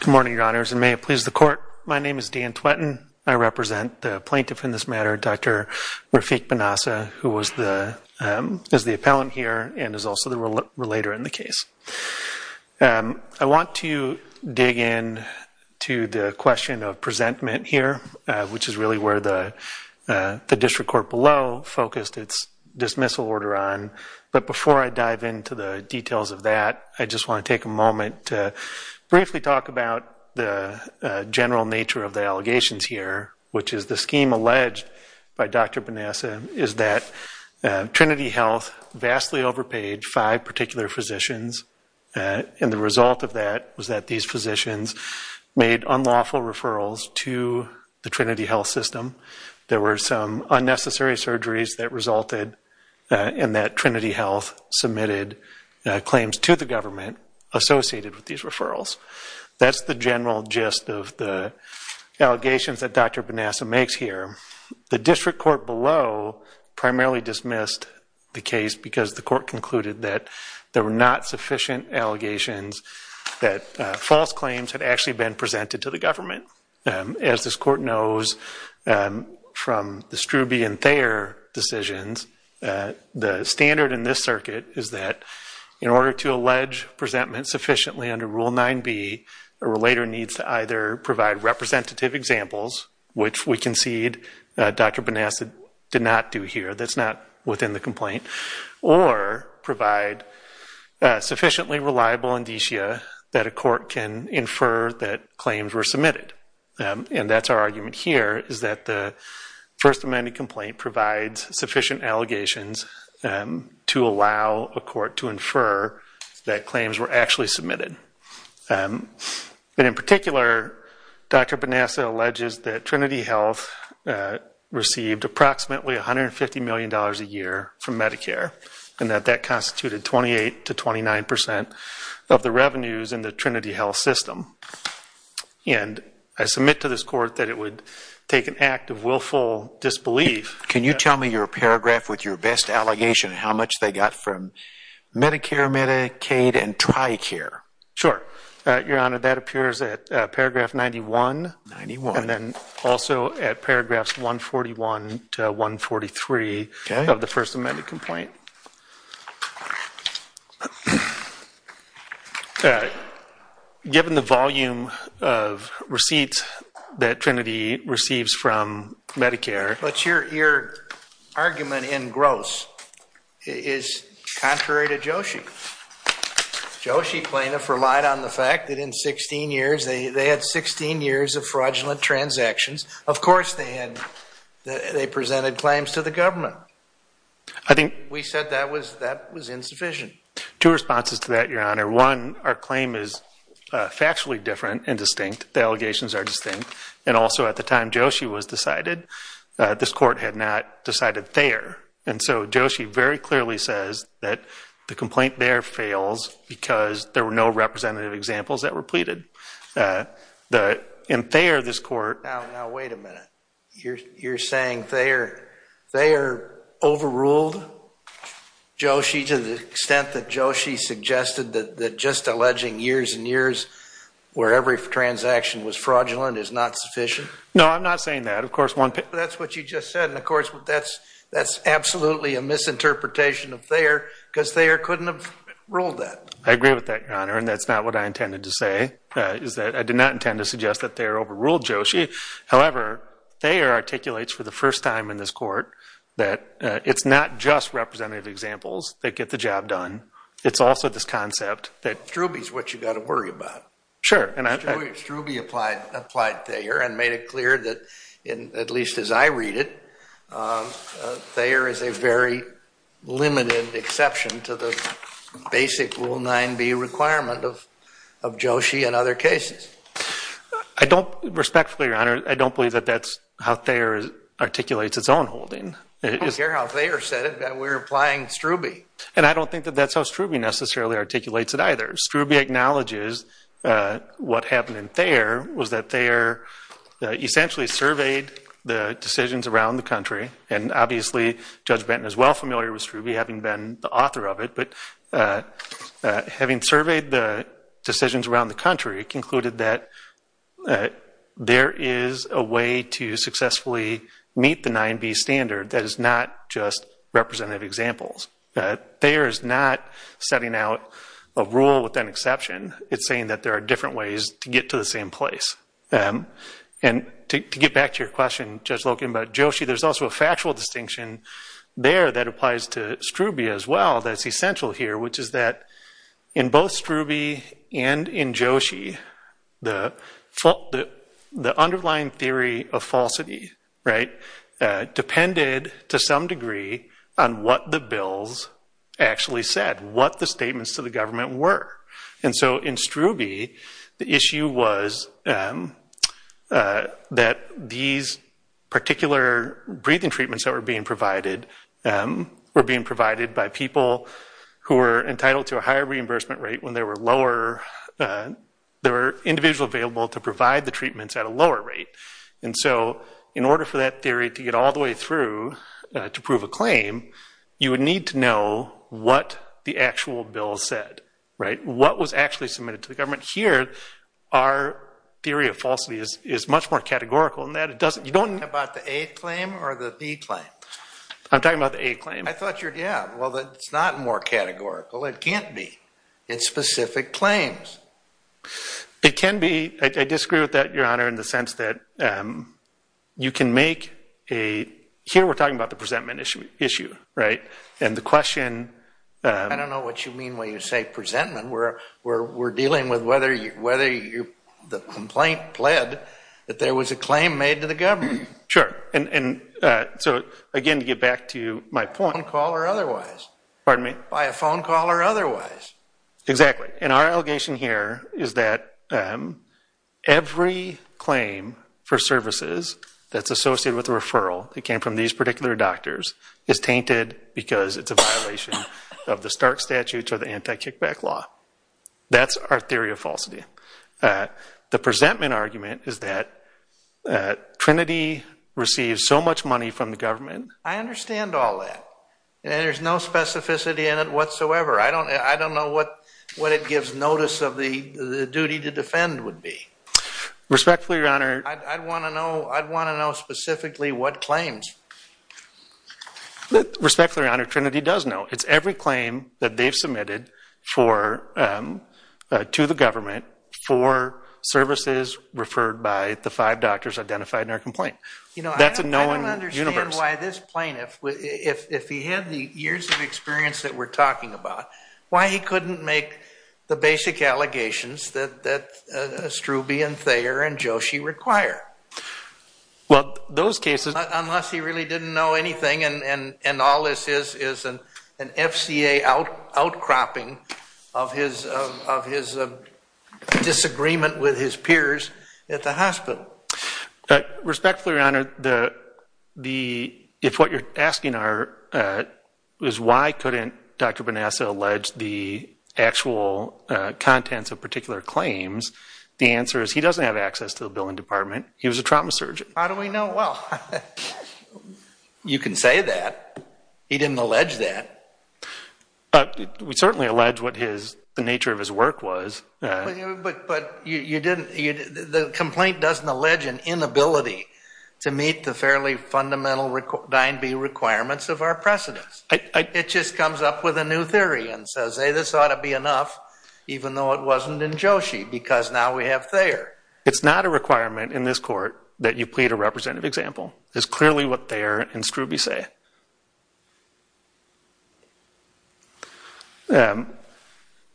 Good morning, your honors, and may it please the court. My name is Dan Twettin. I represent the plaintiff in this matter, Dr. Rafik Benaissa, who is the appellant here and is also the relator in the case. I want to dig in to the question of presentment here, which is really where the district court below focused its dismissal order on. But before I dive into the details of that, I just want to take a moment to briefly talk about the general nature of the allegations here, which is the scheme alleged by Dr. Benaissa is that Trinity Health vastly overpaid five particular physicians, and the result of that was that these physicians made unlawful referrals to the Trinity Health system. There were some unnecessary surgeries that resulted in that Trinity Health submitted claims to the government associated with these referrals. That's the general gist of the allegations that Dr. Benaissa makes here. The district court below primarily dismissed the case because the court concluded that there were not sufficient allegations that false claims had actually been presented to the government. As this court knows from the Struby and Thayer decisions, the standard in this circuit is that in order to allege presentment sufficiently under Rule 9b, a relator needs to either provide representative examples, which we concede Dr. Benaissa did not do here. That's not within the complaint. Or provide sufficiently reliable indicia that a court can infer that claims were submitted. And that's our argument here, is that the First Amendment complaint provides sufficient allegations to allow a court to infer that claims were actually submitted. And in particular, Dr. Benaissa alleges that Trinity Health received approximately $150 million a year from Medicare, and that that constituted 28 to 29 percent of the revenues in the Trinity Health system. And I submit to this court that it would take an act of willful disbelief. Can you tell me your paragraph with your best allegation and how much they got from Medicare, Medicaid, and Tricare? Sure. Your Honor, that appears at paragraph 91, and then also at paragraphs 141 to 143 of the First Amendment complaint. All right. Given the volume of receipts that Trinity receives from Medicare... But your argument in gross is contrary to Joshi. Joshi plaintiff relied on the fact that in 16 years, they had 16 years of fraudulent transactions. Of course they had, they presented claims to the government. We said that was insufficient. Two responses to that, your Honor. One, our claim is factually different and distinct. The allegations are distinct. And also at the time Joshi was decided, this court had not decided Thayer. And so Joshi very clearly says that the complaint there fails because there were no representative examples that were pleaded. In Thayer, this court... Now wait a minute. You're saying Thayer overruled Joshi to the extent that Joshi suggested that just alleging years and years where every transaction was fraudulent is not sufficient? No, I'm not saying that. Of course, that's what you just said. And of course, that's absolutely a misinterpretation of Thayer because Thayer couldn't have ruled that. I agree with that, your Honor, and that's not what I intended to say. I did not intend to suggest that Thayer overruled Joshi. However, Thayer articulates for the first time in this court that it's not just representative examples that get the job done. It's also this concept that... Strube is what you've got to worry about. Sure. Strube applied Thayer and made it clear that, at least as I read it, Thayer is a very limited exception to the basic Rule 9b requirement of Joshi and other cases. I don't... Respectfully, your Honor, I don't believe that that's how Thayer articulates its own holding. I don't care how Thayer said it. We're applying Strube. And I don't think that that's how Strube necessarily articulates it either. Strube acknowledges what happened in Thayer was that Thayer essentially surveyed the decisions around the country. And obviously, Judge Benton is well familiar with Strube, having been the author of it. But having surveyed the decisions around the country, it concluded that there is a way to successfully meet the 9b standard that is not just representative examples. Thayer is not setting out a rule with an exception. It's saying that there are different ways to get to the same place. And to get back to your question, Judge Loken, about Joshi, there's also a factual distinction there that applies to Strube as well that's essential here, which is that in both Strube and in Joshi, the underlying theory of falsity, right, depended to some degree on what the bills actually said, what the statements to the government were. And so in Strube, the issue was that these particular breathing treatments that were being provided were being provided by people who were entitled to a higher reimbursement rate when there were individual available to provide the treatments at a lower rate. And so in order for that theory to get all the way through to prove a claim, you would need to know what the actual bill said, right, what was actually submitted to the government. Here, our theory of falsity is much more categorical in that it doesn't, you don't know about the A claim or the B claim. I'm talking about the A claim. I thought you were, yeah, well, it's not more categorical. It can't be in specific claims. It can be. I disagree with that, Your Honor, in the sense that you can make a, here we're talking about the presentment issue, right? And the question. I don't know what you mean when you say presentment. We're dealing with whether the complaint pled that there was a claim made to the government. Sure. And so, again, to get back to my point. By phone call or otherwise. Pardon me? By a phone call or otherwise. Exactly. And our allegation here is that every claim for services that's associated with a referral that came from these particular doctors is tainted because it's a violation of the Stark Statutes or the Anti-Kickback Law. That's our theory of falsity. The presentment argument is that Trinity receives so much money from the government. I understand all that. There's no specificity in it whatsoever. I don't know what it gives notice of the duty to defend would be. Respectfully, Your Honor. I'd want to know specifically what claims. Respectfully, Your Honor, Trinity does know. It's every claim that they've submitted to the government for services referred by the five doctors identified in our complaint. That's a known universe. I don't understand why this plaintiff, if he had the years of experience that we're talking about, why he couldn't make the basic allegations that Strube and Thayer and Joshi require. Well, those cases. Unless he really didn't know anything and all this is an FCA outcropping of his disagreement with his peers at the hospital. Respectfully, Your Honor, if what you're asking is why couldn't Dr. Benassa allege the actual contents of particular claims, the answer is he doesn't have access to the billing department. He was a trauma surgeon. How do we know? Well, you can say that. He didn't allege that. We certainly allege what the nature of his work was. But the complaint doesn't allege an inability to meet the fairly fundamental Dine B requirements of our precedents. It just comes up with a new theory and says, hey, this ought to be enough even though it wasn't in Joshi because now we have Thayer. It's not a requirement in this court that you plead a representative example. It's clearly what Thayer and Strube say.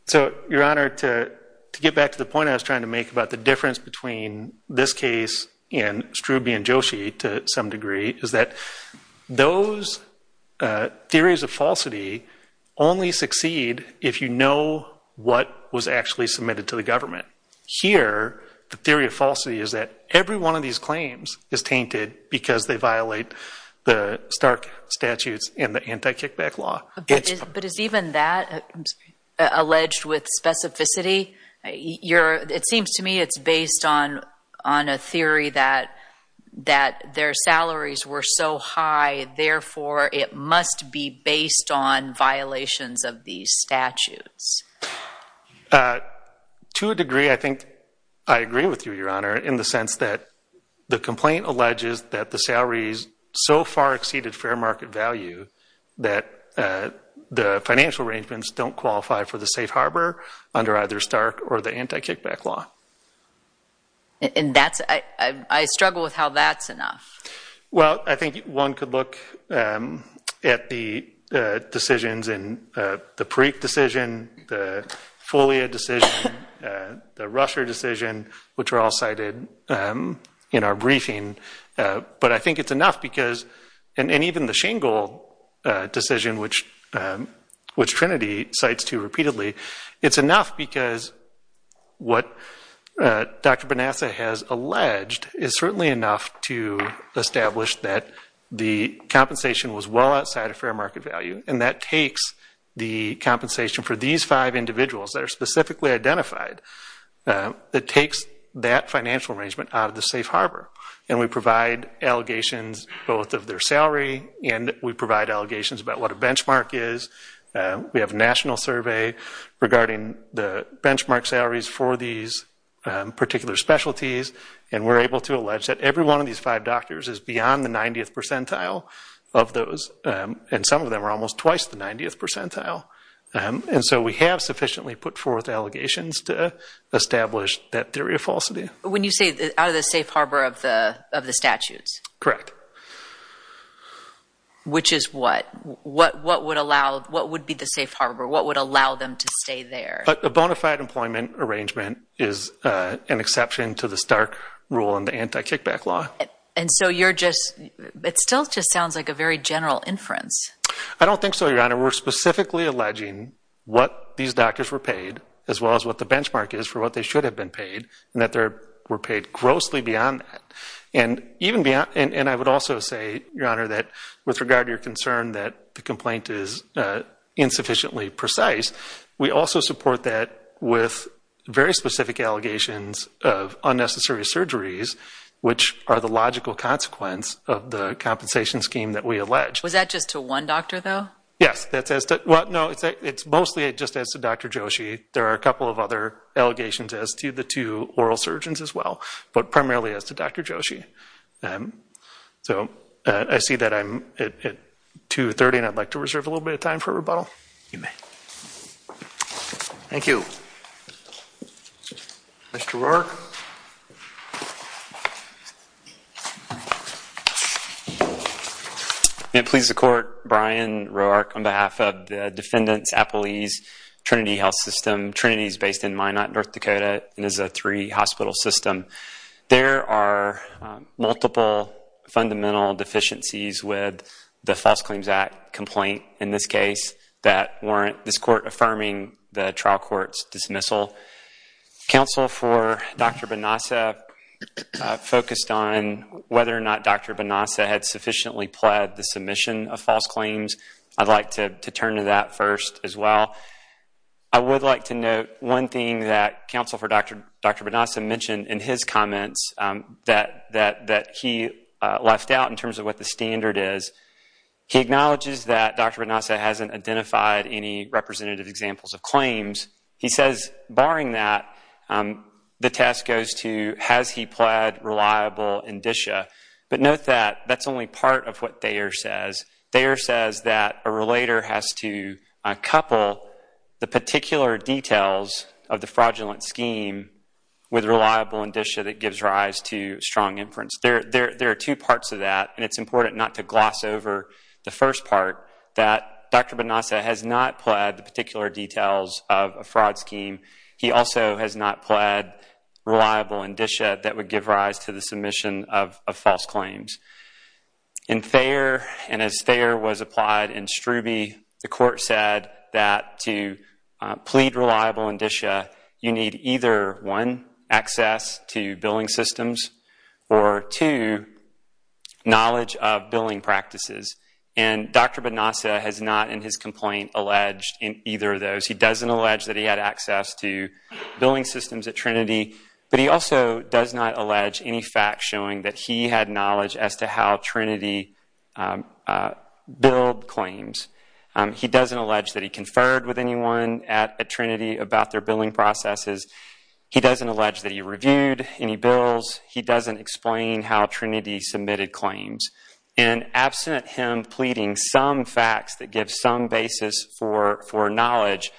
So Your Honor, to get back to the point I was trying to make about the difference between this case and Strube and Joshi to some degree is that those theories of falsity only succeed if you know what was actually submitted to the government. Here, the theory of falsity is that every one of these claims is tainted because they violate the Stark statutes and the anti-kickback law. But is even that alleged with specificity? It seems to me it's based on a theory that their salaries were so high, therefore it must be based on violations of these statutes. To a degree, I think I agree with you, Your Honor, in the sense that the complaint alleges that the salaries so far exceeded fair market value that the financial arrangements don't qualify for the safe harbor under either Stark or the anti-kickback law. And that's, I struggle with how that's enough. Well, I think one could look at the decisions in the Perique decision, the Fulia decision, the Rusher decision, which are all cited in our briefing. But I think it's enough because, and even the Shingle decision, which Trinity cites two repeatedly, it's enough because what Dr. Bonassa has alleged is certainly enough to establish that the compensation was well outside of fair market value. And that takes the compensation for these five individuals that are specifically identified, it takes that financial arrangement out of the safe harbor. And we provide allegations both of their salary and we provide allegations about what a benchmark is. We have a national survey regarding the benchmark salaries for these particular specialties and we're able to allege that every one of these five doctors is beyond the 90th percentile of those, and some of them are almost twice the 90th percentile. And so we have sufficiently put forth allegations to establish that theory of falsity. When you say out of the safe harbor of the statutes? Correct. Which is what? What would allow, what would be the safe harbor? What would allow them to stay there? A bona fide employment arrangement is an exception to the Stark rule and the anti-kickback law. And so you're just, it still just sounds like a very general inference. I don't think so, Your Honor. We're specifically alleging what these doctors were paid, as well as what the benchmark is for what they should have been paid, and that they were paid grossly beyond that. And even beyond, and I would also say, Your Honor, that with regard to your concern that the complaint is insufficiently precise, we also support that with very specific allegations of unnecessary surgeries, which are the logical consequence of the compensation scheme that we allege. Was that just to one doctor, though? Yes, that's as to, well, no, it's mostly just as to Dr. Joshi. There are a couple of other allegations as to the two oral surgeons as well, but primarily as to Dr. Joshi. So I see that I'm at 2.30, and I'd like to reserve a little bit of time for rebuttal. You may. Thank you. Mr. Roark? May it please the Court, Brian Roark on behalf of the Defendants Appalese Trinity Health System. Trinity is based in Minot, North Dakota, and is a three-hospital system. There are multiple fundamental deficiencies with the False Claims Act complaint in this case that warrant this Court affirming the trial court's dismissal. Counsel for Dr. Benassa focused on whether or not Dr. Benassa had sufficiently pled the submission of false claims. I'd like to turn to that first as well. I would like to note one thing that Counsel for Dr. Benassa mentioned in his comments that he left out in terms of what the standard is. He acknowledges that Dr. Benassa hasn't identified any representative examples of claims. He says, barring that, the test goes to, has he pled reliable indicia? But note that that's only part of what Thayer says. Thayer says that a relator has to couple the particular details of the fraudulent scheme with reliable indicia that gives rise to strong inference. There are two parts of that, and it's important not to gloss over the first part, that Dr. Benassa has not pled the particular details of a fraud scheme. He also has not pled reliable indicia that would give rise to the submission of false claims. In Thayer, and as Thayer was applied in Strube, the court said that to plead reliable indicia, you need either, one, access to billing systems, or two, knowledge of billing practices. And Dr. Benassa has not, in his complaint, alleged in either of those. He doesn't allege that he had access to billing systems at Trinity, but he also does not allege any facts showing that he had knowledge as to how Trinity billed claims. He doesn't allege that he conferred with anyone at Trinity about their billing processes. He doesn't allege that he reviewed any bills. He doesn't explain how Trinity submitted claims. And absent him pleading some facts that give some basis for knowledge,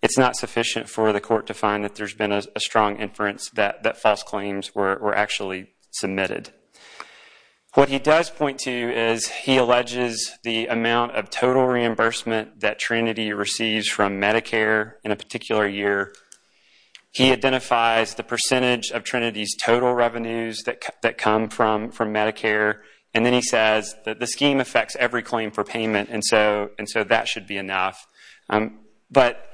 it's not sufficient for the court to find that there's been a strong inference that false claims were actually submitted. What he does point to is he alleges the amount of total reimbursement that Trinity receives from Medicare in a particular year. He identifies the percentage of Trinity's total revenues that come from Medicare, and then he says that the scheme affects every claim for payment, and so that should be enough. But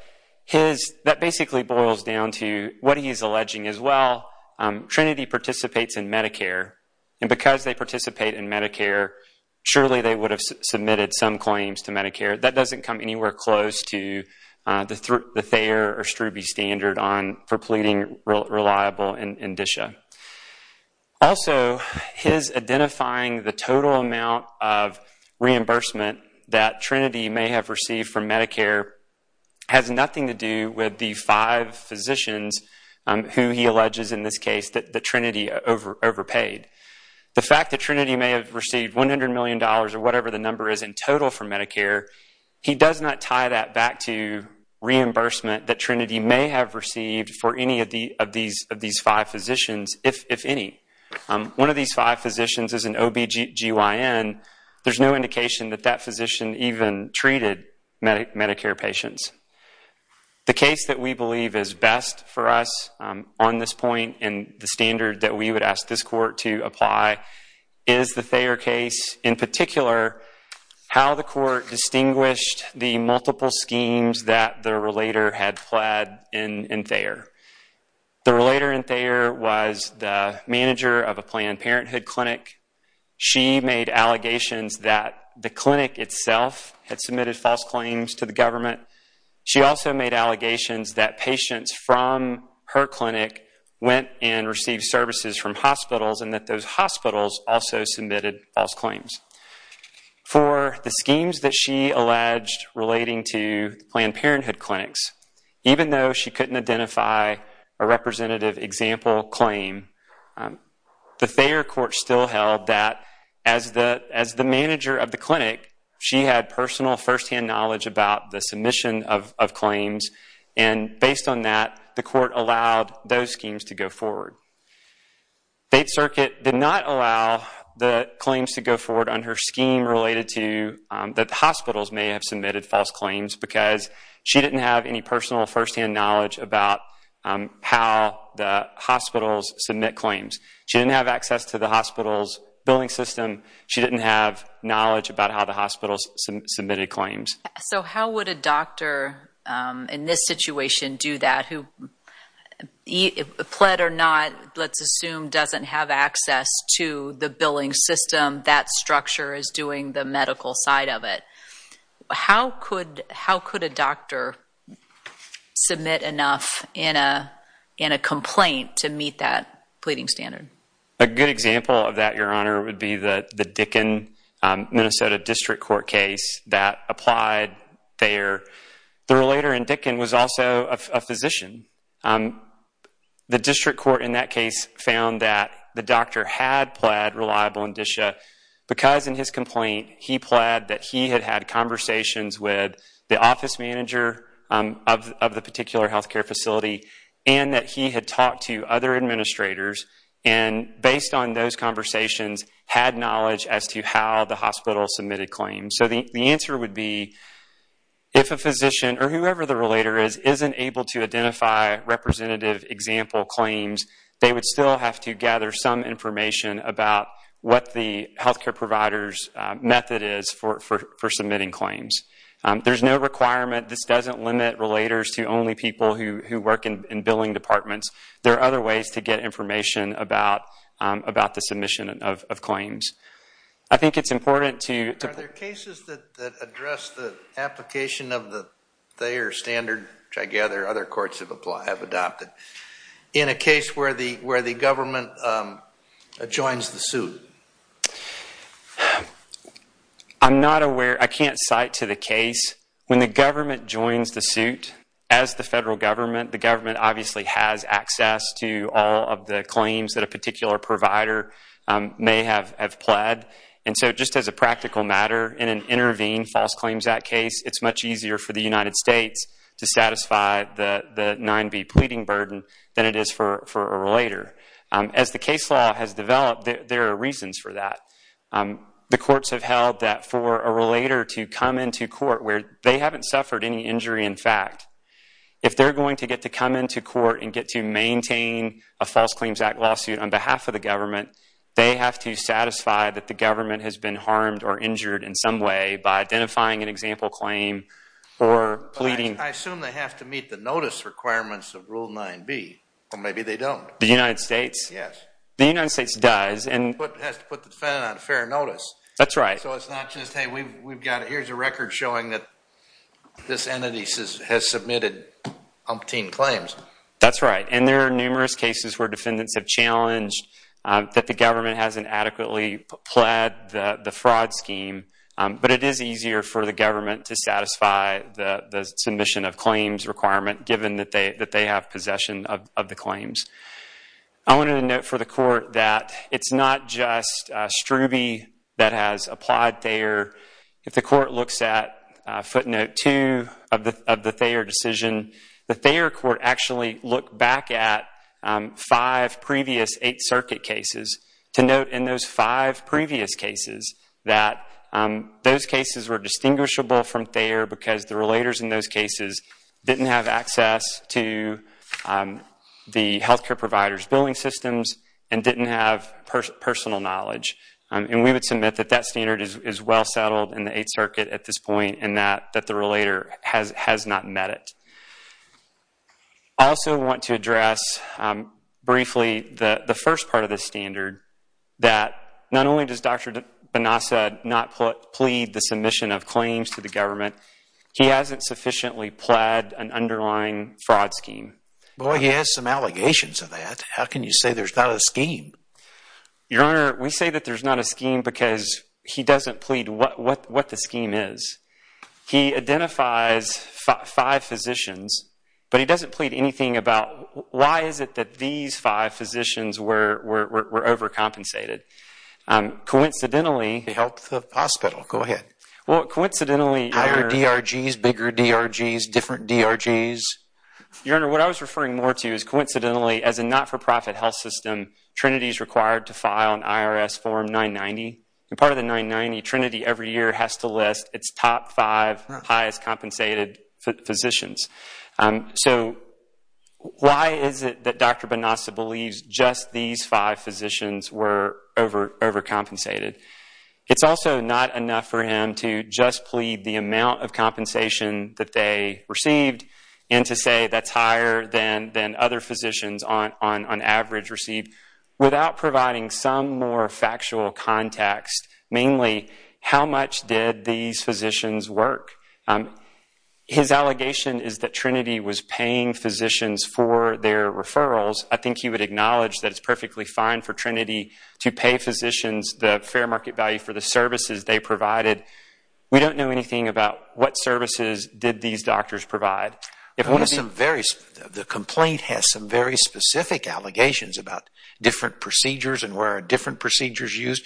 that basically boils down to what he's alleging as well. Trinity participates in Medicare, and because they participate in Medicare, surely they would have submitted some claims to Medicare. That doesn't come anywhere close to the Thayer or Strubey standard for pleading reliable indicia. Also, his identifying the total amount of reimbursement that Trinity may have received from Medicare has nothing to do with the five physicians who he alleges in this case that Trinity overpaid. The fact that Trinity may have received $100 million or whatever the number is in total from Medicare, he does not tie that back to reimbursement that Trinity may have received for any of these five physicians, if any. One of these five physicians is an OBGYN. There's no indication that that physician even treated Medicare patients. The case that we believe is best for us on this point and the standard that we would ask this court to apply is the Thayer case, in particular, how the court distinguished the multiple schemes that the relator had pled in Thayer. The relator in Thayer was the manager of a Planned Parenthood clinic. She made allegations that the clinic itself had submitted false claims to the government. She also made allegations that patients from her clinic went and received services from hospitals and that those hospitals also submitted false claims. For the schemes that she alleged relating to Planned Parenthood clinics, even though she couldn't identify a representative example claim, the Thayer court still held that as the manager of the clinic, she had personal first-hand knowledge about the submission of claims, and based on that, the court allowed those schemes to go forward. Faith Circuit did not allow the claims to go forward on her scheme related to that hospitals may have submitted false claims because she didn't have any personal first-hand knowledge about how the hospitals submit claims. She didn't have access to the hospital's billing system. She didn't have knowledge about how the hospitals submitted claims. So how would a doctor in this situation do that who, pled or not, let's assume doesn't have access to the billing system, that structure is doing the medical side of it, how could a doctor submit enough in a complaint to meet that pleading standard? A good example of that, Your Honor, would be the Dickin, Minnesota District Court case that applied Thayer. The relator in Dickin was also a physician. The district court in that case found that the doctor had pled reliable indicia because in his complaint, he pled that he had had conversations with the office manager of the particular health care facility and that he had talked to other administrators and based on those conversations, had knowledge as to how the hospital submitted claims. So the answer would be, if a physician or whoever the relator is, isn't able to identify representative example claims, they would still have to gather some information about what the health care provider's method is for submitting claims. There's no requirement. This doesn't limit relators to only people who work in billing departments. There are other ways to get information about the submission of claims. I think it's important to... Are there cases that address the application of the Thayer standard, which I gather other courts have adopted, in a case where the government joins the suit? I'm not aware. I can't cite to the case. When the government joins the suit, as the federal government, the government obviously has access to all of the claims that a particular provider may have pled. And so just as a practical matter, in an Intervene False Claims Act case, it's much easier for the United States to satisfy the 9b pleading burden than it is for a relator. As the case law has developed, there are reasons for that. The courts have held that for a relator to come into court where they haven't suffered any injury in fact, if they're going to get to come into court and get to maintain a False Claims Act lawsuit on behalf of the government, they have to satisfy that the government has been harmed or injured in some way by identifying an example claim or pleading. I assume they have to meet the notice requirements of Rule 9b, or maybe they don't. The United States? Yes. The United States does. It has to put the defendant on fair notice. That's right. So it's not just, hey, we've got it. Here's a record showing that this entity has submitted umpteen claims. That's right. And there are numerous cases where defendants have challenged that the government hasn't adequately pled the fraud scheme, but it is easier for the government to satisfy the submission of claims requirement given that they have possession of the claims. I wanted to note for the court that it's not just Strube that has applied Thayer. If the court looks at footnote two of the Thayer decision, the Thayer court actually looked back at five previous Eighth Circuit cases to note in those five previous cases that those cases were distinguishable from Thayer because the relators in those cases didn't have access to the health care provider's billing systems and didn't have personal knowledge. And we would submit that that standard is well settled in the Eighth Circuit at this point and that the relator has not met it. I also want to address briefly the first part of this standard, that not only does Dr. Benassa not plead the submission of claims to the government, he hasn't sufficiently pled an underlying fraud scheme. Boy, he has some allegations of that. How can you say there's not a scheme? Your Honor, we say that there's not a scheme because he doesn't plead what the scheme is. He identifies five physicians, but he doesn't plead anything about why is it that these five physicians were overcompensated. Coincidentally... The health hospital, go ahead. Well, coincidentally... Higher DRGs, bigger DRGs, different DRGs. Your Honor, what I was referring more to is coincidentally, as a not-for-profit health system, Trinity is required to file an IRS form 990. And part of the 990, Trinity every year has to list its top five highest compensated physicians. So, why is it that Dr. Benassa believes just these five physicians were overcompensated? It's also not enough for him to just plead the amount of compensation that they received and to say that's higher than other physicians on average receive, without providing some more factual context, mainly, how much did these physicians work? His allegation is that Trinity was paying physicians for their referrals. I think he would acknowledge that it's perfectly fine for Trinity to pay physicians the fair market value for the services they provided. We don't know anything about what services did these doctors provide. The complaint has some very specific allegations about different procedures and where are different systems.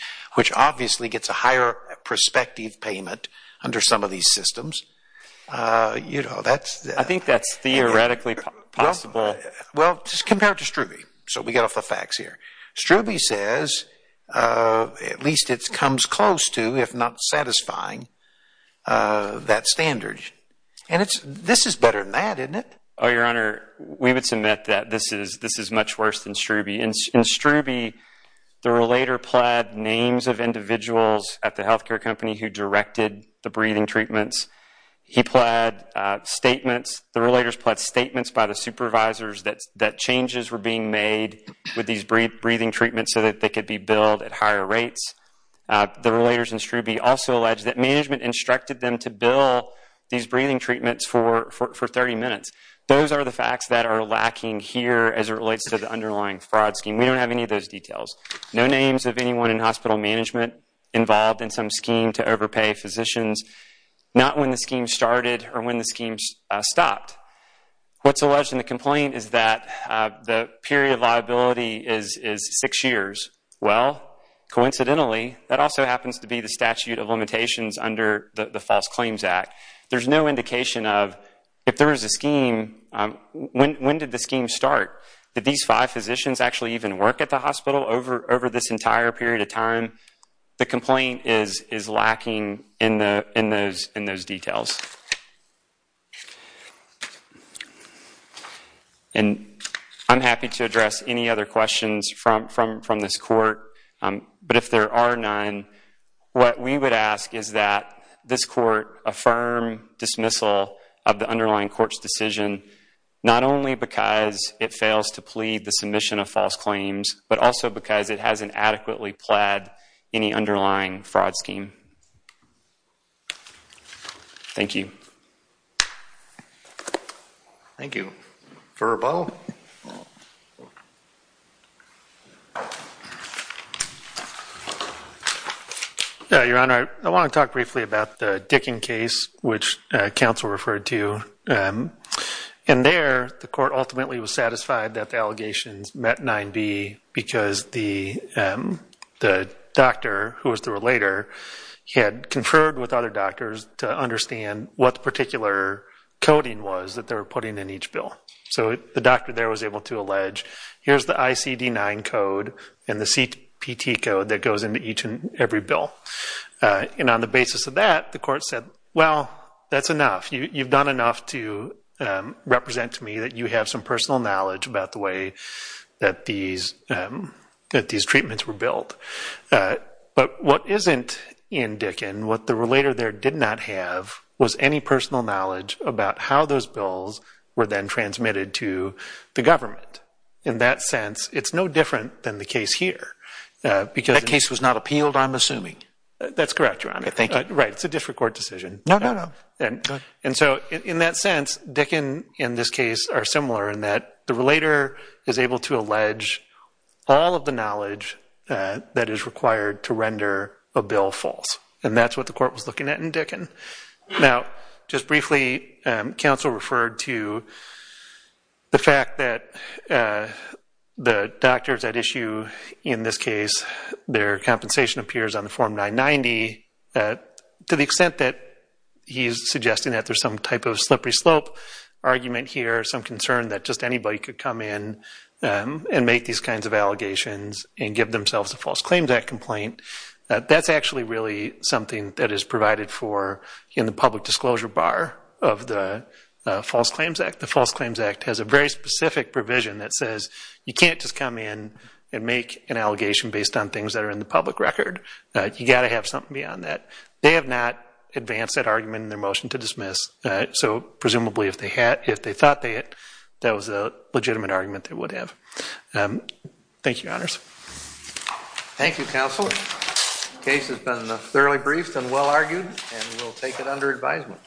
I think that's theoretically possible. Well, just compare it to Strube. So we get off the facts here. Strube says at least it comes close to, if not satisfying, that standard. And this is better than that, isn't it? Oh, Your Honor, we would submit that this is much worse than Strube. In Strube, there were later plaid names of individuals at the health care company who directed the breathing treatments. He plaid statements, the relators plaid statements by the supervisors that changes were being made with these breathing treatments so that they could be billed at higher rates. The relators in Strube also allege that management instructed them to bill these breathing treatments for 30 minutes. Those are the facts that are lacking here as it relates to the underlying fraud scheme. We don't have any of those details. No names of anyone in hospital management involved in some scheme to overpay physicians. Not when the scheme started or when the scheme stopped. What's alleged in the complaint is that the period of liability is six years. Well, coincidentally, that also happens to be the statute of limitations under the False Claims Act. There's no indication of if there is a scheme, when did the scheme start? Did these five physicians actually even work at the hospital over this entire period of time? The complaint is lacking in those details. I'm happy to address any other questions from this court, but if there are none, what we would ask is that this court affirm dismissal of the underlying court's decision not only because it fails to plead the submission of false claims, but also because it hasn't adequately plaid any underlying fraud scheme. Thank you. Thank you. Court of Appeal. Your Honor, I want to talk briefly about the Dickin case, which counsel referred to. There, the court ultimately was satisfied that the allegations met 9B because the doctor, who was the relator, had conferred with other doctors to understand what the particular coding was that they were putting in each bill. The doctor there was able to allege, here's the ICD-9 code and the CPT code that goes into each and every bill. On the basis of that, the court said, well, that's enough. You've done enough to represent to me that you have some personal knowledge about the way that these treatments were built. But what isn't in Dickin, what the relator there did not have, was any personal knowledge about how those bills were then transmitted to the government. In that sense, it's no different than the case here. That case was not appealed, I'm assuming? That's correct, Your Honor. Thank you. Right, it's a district court decision. No, no, no. Go ahead. And so, in that sense, Dickin and this case are similar in that the relator is able to allege all of the knowledge that is required to render a bill false. And that's what the court was looking at in Dickin. Now, just briefly, counsel referred to the fact that the doctors at issue in this case, their compensation appears on the Form 990. To the extent that he's suggesting that there's some type of slippery slope argument here, some concern that just anybody could come in and make these kinds of allegations and give themselves a False Claims Act complaint, that's actually really something that is provided for in the public disclosure bar of the False Claims Act. The False Claims Act has a very specific provision that says you can't just come in and make an allegation based on things that are in the public record. You've got to have something beyond that. They have not advanced that argument in their motion to dismiss, so presumably if they had, if they thought they had, that was a legitimate argument they would have. Thank you, Your Honors. Thank you, Counselor. The case has been thoroughly briefed and well-argued, and we'll take it under advisement.